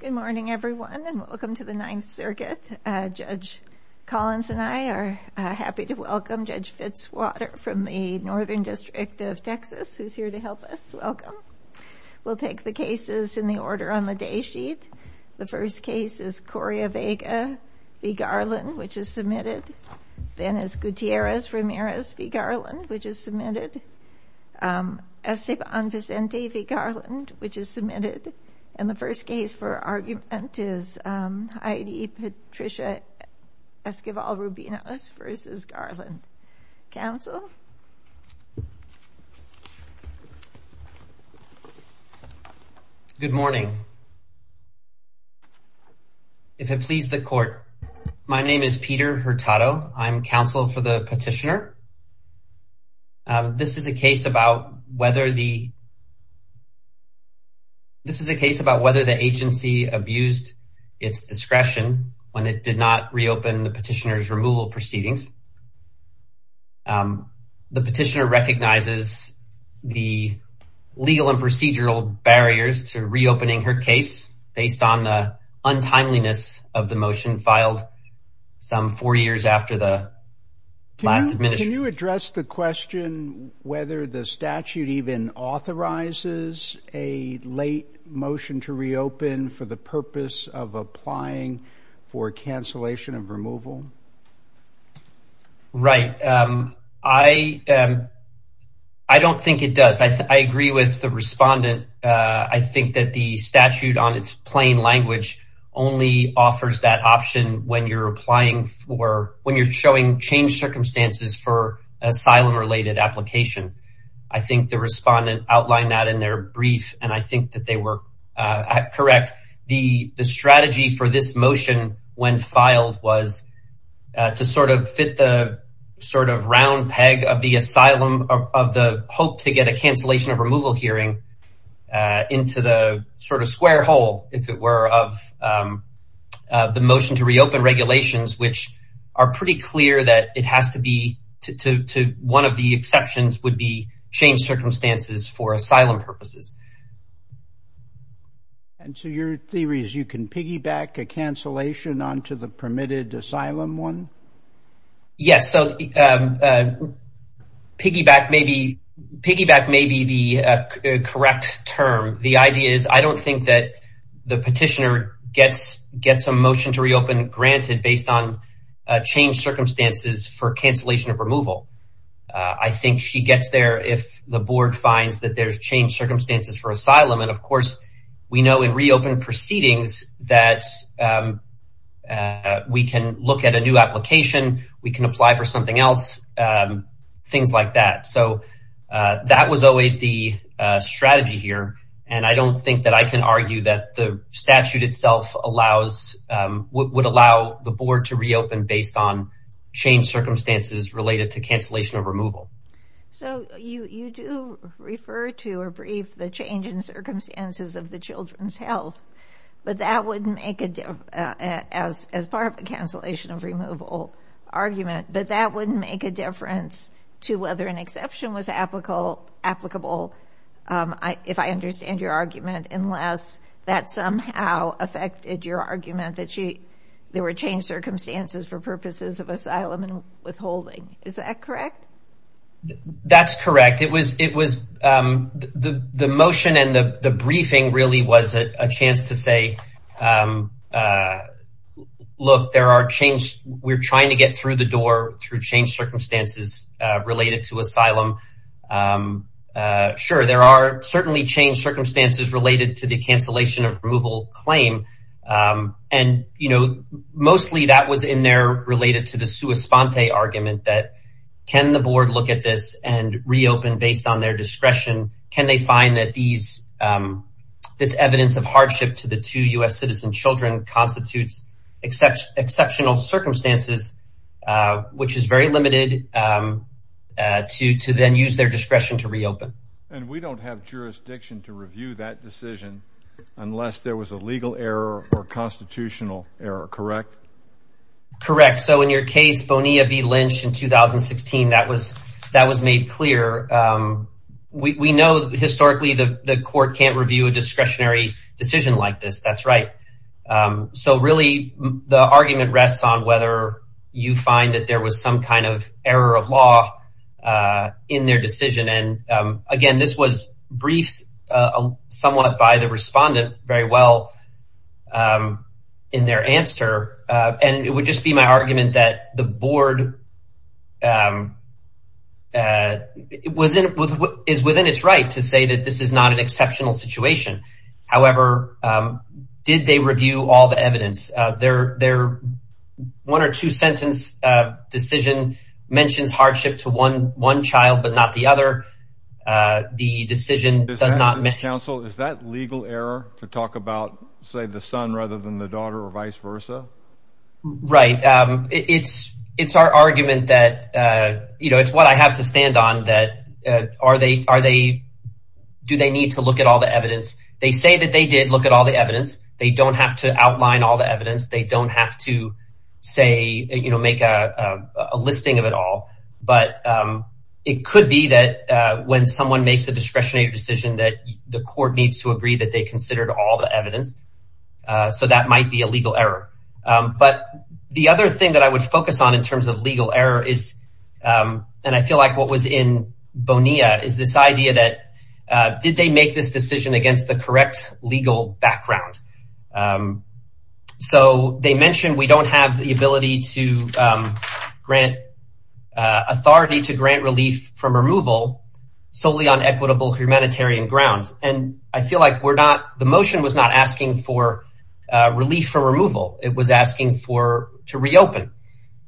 Good morning everyone and welcome to the Ninth Circuit. Judge Collins and I are happy to welcome Judge Fitzwater from the Northern District of Texas who's here to help us. Welcome. We'll take the cases in the order on the day sheet. The first case is Correa Vega v. Garland which is submitted. Then is Gutierrez Ramirez v. Garland which is submitted. Esteban Vicente v. Garland which is submitted. The first case for argument is Heidi Patricia Esquivel Rubinos v. Garland. Counsel? Good morning. If it please the court, my name is Peter Hurtado. I'm counsel for the petitioner. This is a case about whether the, this is a case about whether the agency abused its discretion when it did not reopen the petitioner's removal proceedings. The petitioner recognizes the legal and procedural barriers to reopening her case based on the untimeliness of the motion filed some four years after the last submission. Can you address the question whether the open for the purpose of applying for cancellation of removal? Right, I don't think it does. I agree with the respondent. I think that the statute on its plain language only offers that option when you're applying for, when you're showing change circumstances for asylum related application. I think the correct, the strategy for this motion when filed was to sort of fit the sort of round peg of the asylum of the hope to get a cancellation of removal hearing into the sort of square hole if it were of the motion to reopen regulations which are pretty clear that it has to be to one of the exceptions would be change circumstances for asylum purposes. And so your theory is you can piggyback a cancellation onto the permitted asylum one? Yes, so piggyback maybe, piggyback may be the correct term. The idea is I don't think that the petitioner gets, gets a motion to reopen granted based on change circumstances for cancellation of removal. I think she gets there if the board finds that there's change circumstances for asylum. And of course, we know in reopen proceedings that we can look at a new application, we can apply for something else, things like that. So that was always the strategy here. And I don't think that I can argue that the statute itself allows, would allow the board to change circumstances related to cancellation of removal. So you do refer to or brief the change in circumstances of the children's health, but that wouldn't make a difference as, as part of the cancellation of removal argument, but that wouldn't make a difference to whether an exception was applicable, applicable. If I understand your argument, unless that somehow affected your argument that she, there were change circumstances for purposes of withholding, is that correct? That's correct. It was, it was the, the motion and the briefing really was a chance to say, look, there are change, we're trying to get through the door through change circumstances related to asylum. Sure, there are certainly change circumstances related to the cancellation of removal claim. And, you know, mostly that was in there related to the Sponte argument that can the board look at this and reopen based on their discretion? Can they find that these, this evidence of hardship to the two U.S. citizen children constitutes exceptional circumstances, which is very limited to, to then use their discretion to reopen. And we don't have jurisdiction to review that decision unless there was a legal error or constitutional error, correct? Correct. So in your case, Bonilla v. Lynch in 2016, that was, that was made clear. We know historically the court can't review a discretionary decision like this. That's right. So really the argument rests on whether you find that there was some kind of error of law in their decision. And again, this was briefed somewhat by the respondent very well in their answer. And it would just be my argument that the board is within its right to say that this is not an exceptional situation. However, did they review all the evidence? Their one or two sentence decision mentions hardship to one, one or the other. The decision does not mention. Counsel, is that legal error to talk about, say, the son rather than the daughter or vice versa? Right. It's, it's our argument that, you know, it's what I have to stand on that. Are they, are they, do they need to look at all the evidence? They say that they did look at all the evidence. They don't have to outline all the evidence. They don't have to say, you know, it could be that when someone makes a discretionary decision that the court needs to agree that they considered all the evidence. So that might be a legal error. But the other thing that I would focus on in terms of legal error is, and I feel like what was in Bonilla is this idea that did they make this decision against the correct legal background? So they mentioned we don't have the ability to grant, authority to grant relief from removal solely on equitable humanitarian grounds. And I feel like we're not, the motion was not asking for relief for removal. It was asking for, to reopen.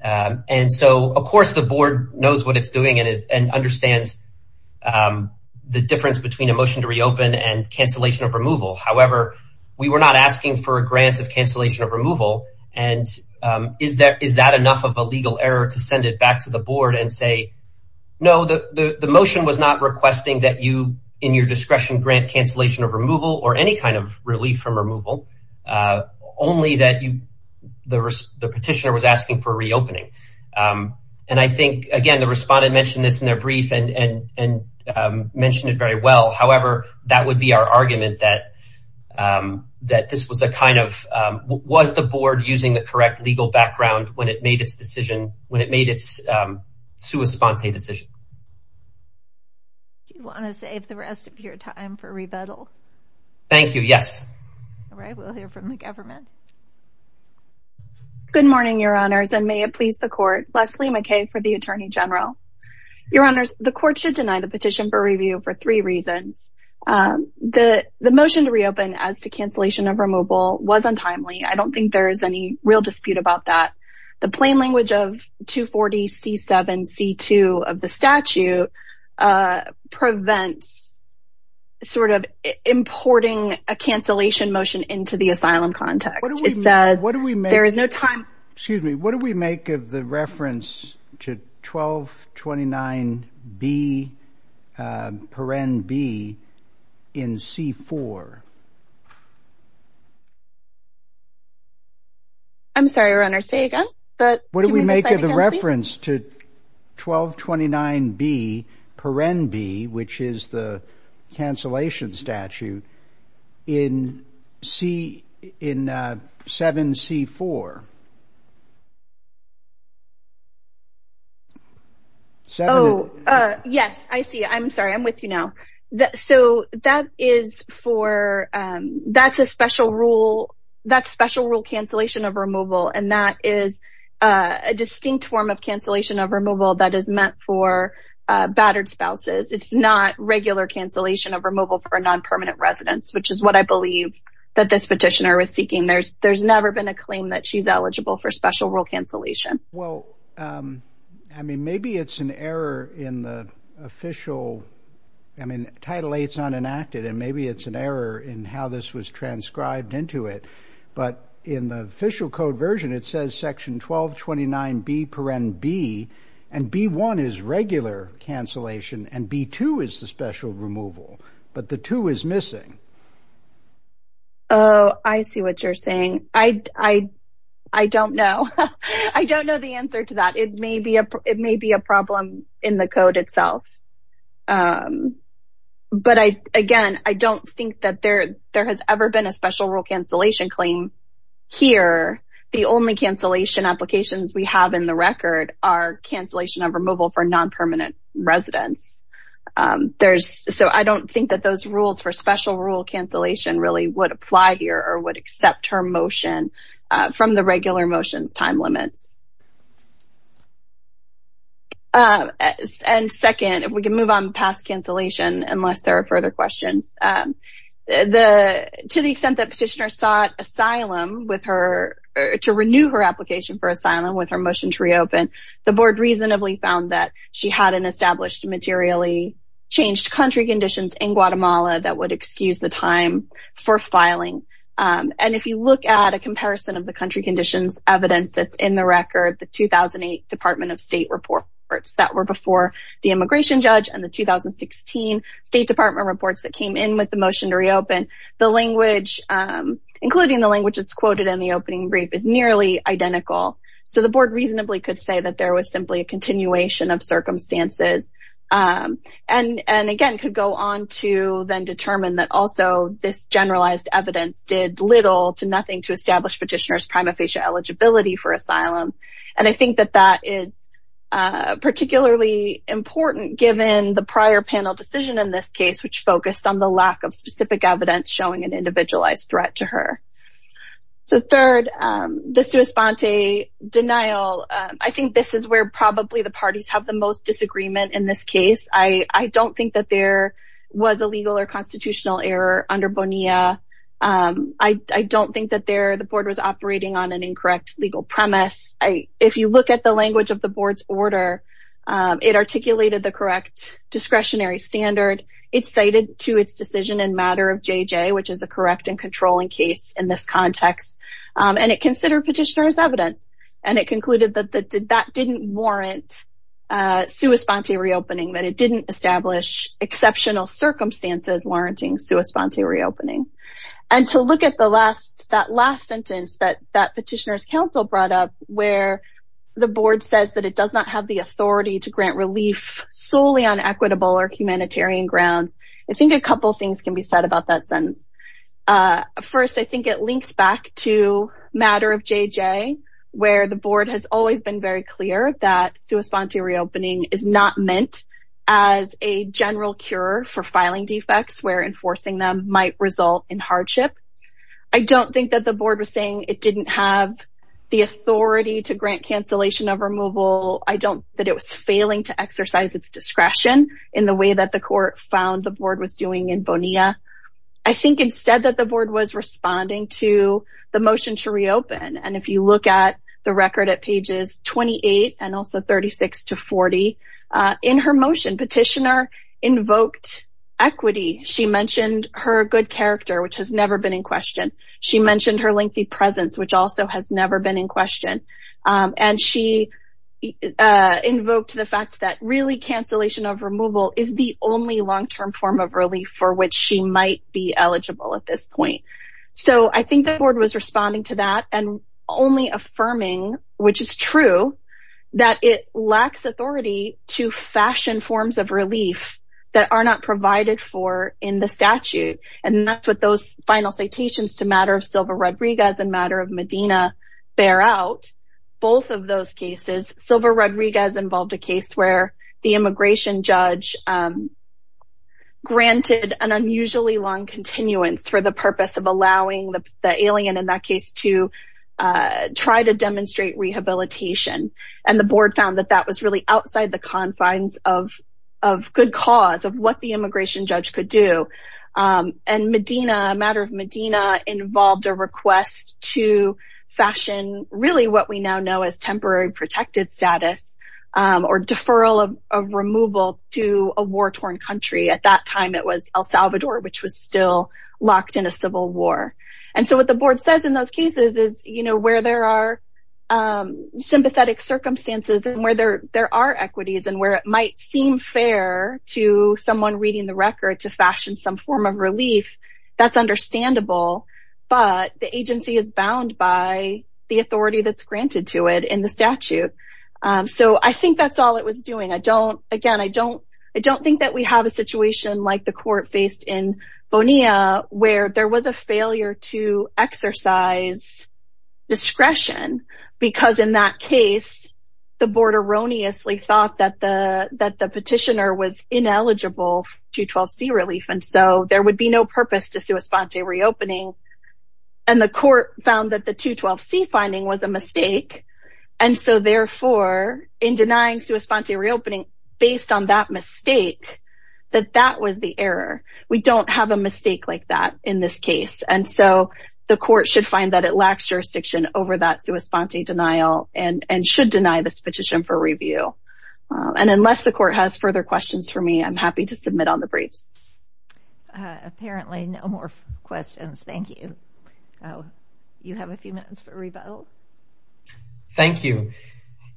And so of course the board knows what it's doing and is, and understands the difference between a motion to reopen and cancellation of removal. However, we were not asking for a grant of cancellation of is that enough of a legal error to send it back to the board and say, no, the motion was not requesting that you in your discretion grant cancellation of removal or any kind of relief from removal. Only that you, the petitioner was asking for reopening. And I think, again, the respondent mentioned this in their brief and mentioned it very well. However, that would be our argument that this was a kind of, was the board using the correct legal background when it made its decision, when it made its sua sponte decision. Do you want to save the rest of your time for rebuttal? Thank you. Yes. All right. We'll hear from the government. Good morning, your honors, and may it please the court. Leslie McKay for the attorney general. Your honors, the court should deny the petition for review for three reasons. The motion to reopen as to cancellation of removal was untimely. I don't think there is any real dispute about that. The plain language of 240 C7 C2 of the statute prevents sort of importing a cancellation motion into the asylum context. It says there is no time. Excuse me, what do we make of the reference to 1229 B per NB in C4? I'm sorry, your honor, say again. But what do we make of the reference to 1229 B per NB, which is the cancellation statute in C, in 7 C4? Oh, yes, I see. I'm sorry. I'm with you now. So that is for that's a special rule. That's special rule cancellation of removal. And that is a distinct form of cancellation of removal that is meant for battered spouses. It's not regular cancellation of removal for a non-permanent residence, which is what I believe that this petitioner is seeking. There's there's never been a claim that she's eligible for special rule cancellation. Well, I mean, maybe it's an error in the official. I mean, Title 8 is not enacted and maybe it's an error in how this was transcribed into it. But in the official code version, it says Section 1229 B per NB and B1 is regular cancellation and B2 is the special removal. But the two is missing. Oh, I see what you're saying. I don't know. I don't know the answer to that. It may be a it may be a problem in the code itself. But I again, I don't think that there there has ever been a special rule cancellation claim here. The only cancellation applications we have in the record are cancellation of removal for non-permanent residence. There's so I don't think that those rules for special rule cancellation really would apply here or would accept her motion from the regular motions time limits. And second, if we can move on past cancellation, unless there are further questions, the to the extent that petitioner sought asylum with her to renew her application for asylum with her motion to reopen, the she had an established materially changed country conditions in Guatemala that would excuse the time for filing. And if you look at a comparison of the country conditions evidence that's in the record, the 2008 Department of State reports that were before the immigration judge and the 2016 State Department reports that came in with the motion to reopen the language, including the languages quoted in the opening brief is nearly identical. So the board reasonably could say that there was simply a continuation of circumstances and and again could go on to then determine that also this generalized evidence did little to nothing to establish petitioner's prima facie eligibility for asylum. And I think that that is particularly important given the prior panel decision in this case, which focused on the lack of specific evidence showing an individualized threat to her. So third, the sua sponte denial, I probably the parties have the most disagreement in this case, I don't think that there was a legal or constitutional error under Bonilla. I don't think that there the board was operating on an incorrect legal premise. If you look at the language of the board's order, it articulated the correct discretionary standard. It's cited to its decision in matter of JJ, which is a correct and controlling case in this context. And it considered petitioner's evidence. And it concluded that that didn't warrant sua sponte reopening that it didn't establish exceptional circumstances warranting sua sponte reopening. And to look at the last that last sentence that that petitioners council brought up where the board says that it does not have the authority to grant relief solely on equitable or humanitarian grounds. I think a couple things can be said about that sentence. First, I think it links back to matter of JJ, where the board has always been very clear that sua sponte reopening is not meant as a general cure for filing defects where enforcing them might result in hardship. I don't think that the board was saying it didn't have the authority to grant cancellation of removal. I don't that it was failing to exercise its discretion in the way that the court found the board was doing in Bonilla. I think instead that the board was responding to the motion to reopen and if you look at the record at pages 28 and also 36 to 40 in her motion, petitioner invoked equity, she mentioned her good character, which has never been in question. She mentioned her lengthy presence, which also has never been in question. And she invoked the fact that really cancellation of removal is the only long term form of relief for which she might be eligible at this point. So I think the board was responding to that and only affirming which is true, that it lacks authority to fashion forms of relief that are not provided for in the statute. And that's what those final citations to matter of silver Rodriguez and matter of Medina bear out. Both of those cases, silver Rodriguez involved a case where the immigration judge granted an unusually long continuance for the purpose of allowing the alien in that case to try to demonstrate rehabilitation. And the board found that that was really outside the confines of, of good cause of what the immigration judge could do. And Medina matter of Medina involved a request to fashion really what we now know as temporary protected status, or deferral of removal to a war torn country at that time, it was El Salvador, which was still locked in a civil war. And so what the board says in those cases is, you know, where there are sympathetic circumstances and where there are equities and where it might seem fair to someone reading the record to fashion some form of relief. That's understandable. But the agency is bound by the authority that's granted to it in the statute. So I think that's all it was doing. I don't again, I don't, I don't think that we have a situation like the court faced in Bonilla, where there was a failure to exercise discretion, because in that case, the board erroneously thought that the that the petitioner was ineligible to 12 c relief. And so there would be no purpose to sui sponte reopening. And the court found that the to 12 c finding was a mistake. And so therefore, in denying sui sponte reopening, based on that mistake, that that was the error, we don't have a mistake like that in this case. And so the court should find that it lacks jurisdiction over that sui sponte denial and and should deny this petition for review. And unless the court has further questions for me, I'm happy to submit on the briefs. Apparently no more questions. Thank you. You have a few minutes for rebuttal. Thank you.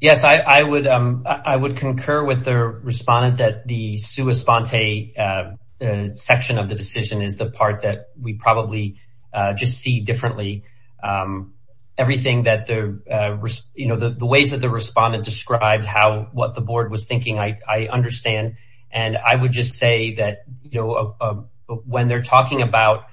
Yes, I would, I would concur with the respondent that the sui sponte section of the board probably just see differently. Everything that the, you know, the ways that the respondent described how what the board was thinking, I understand. And I would just say that, you know, when they're talking about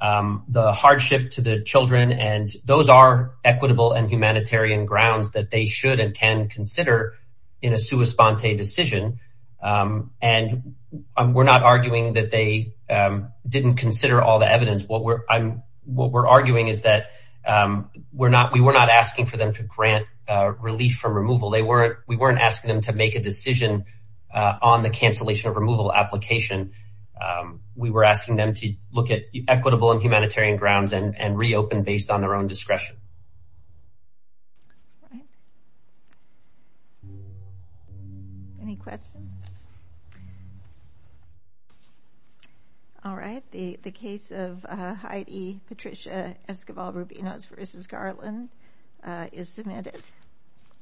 the hardship to the children, and those are equitable and humanitarian grounds that they should and can consider in a sui sponte decision. And we're not arguing that they didn't consider all the evidence. What we're what we're arguing is that we're not we were not asking for them to grant relief from removal. They weren't we weren't asking them to make a decision on the cancellation of removal application. We were asking them to look at equitable and humanitarian grounds and reopen based on their own discretion. Any questions? All right. The case of Heidi Patricia Esquivel Rubinos v. Garland is submitted.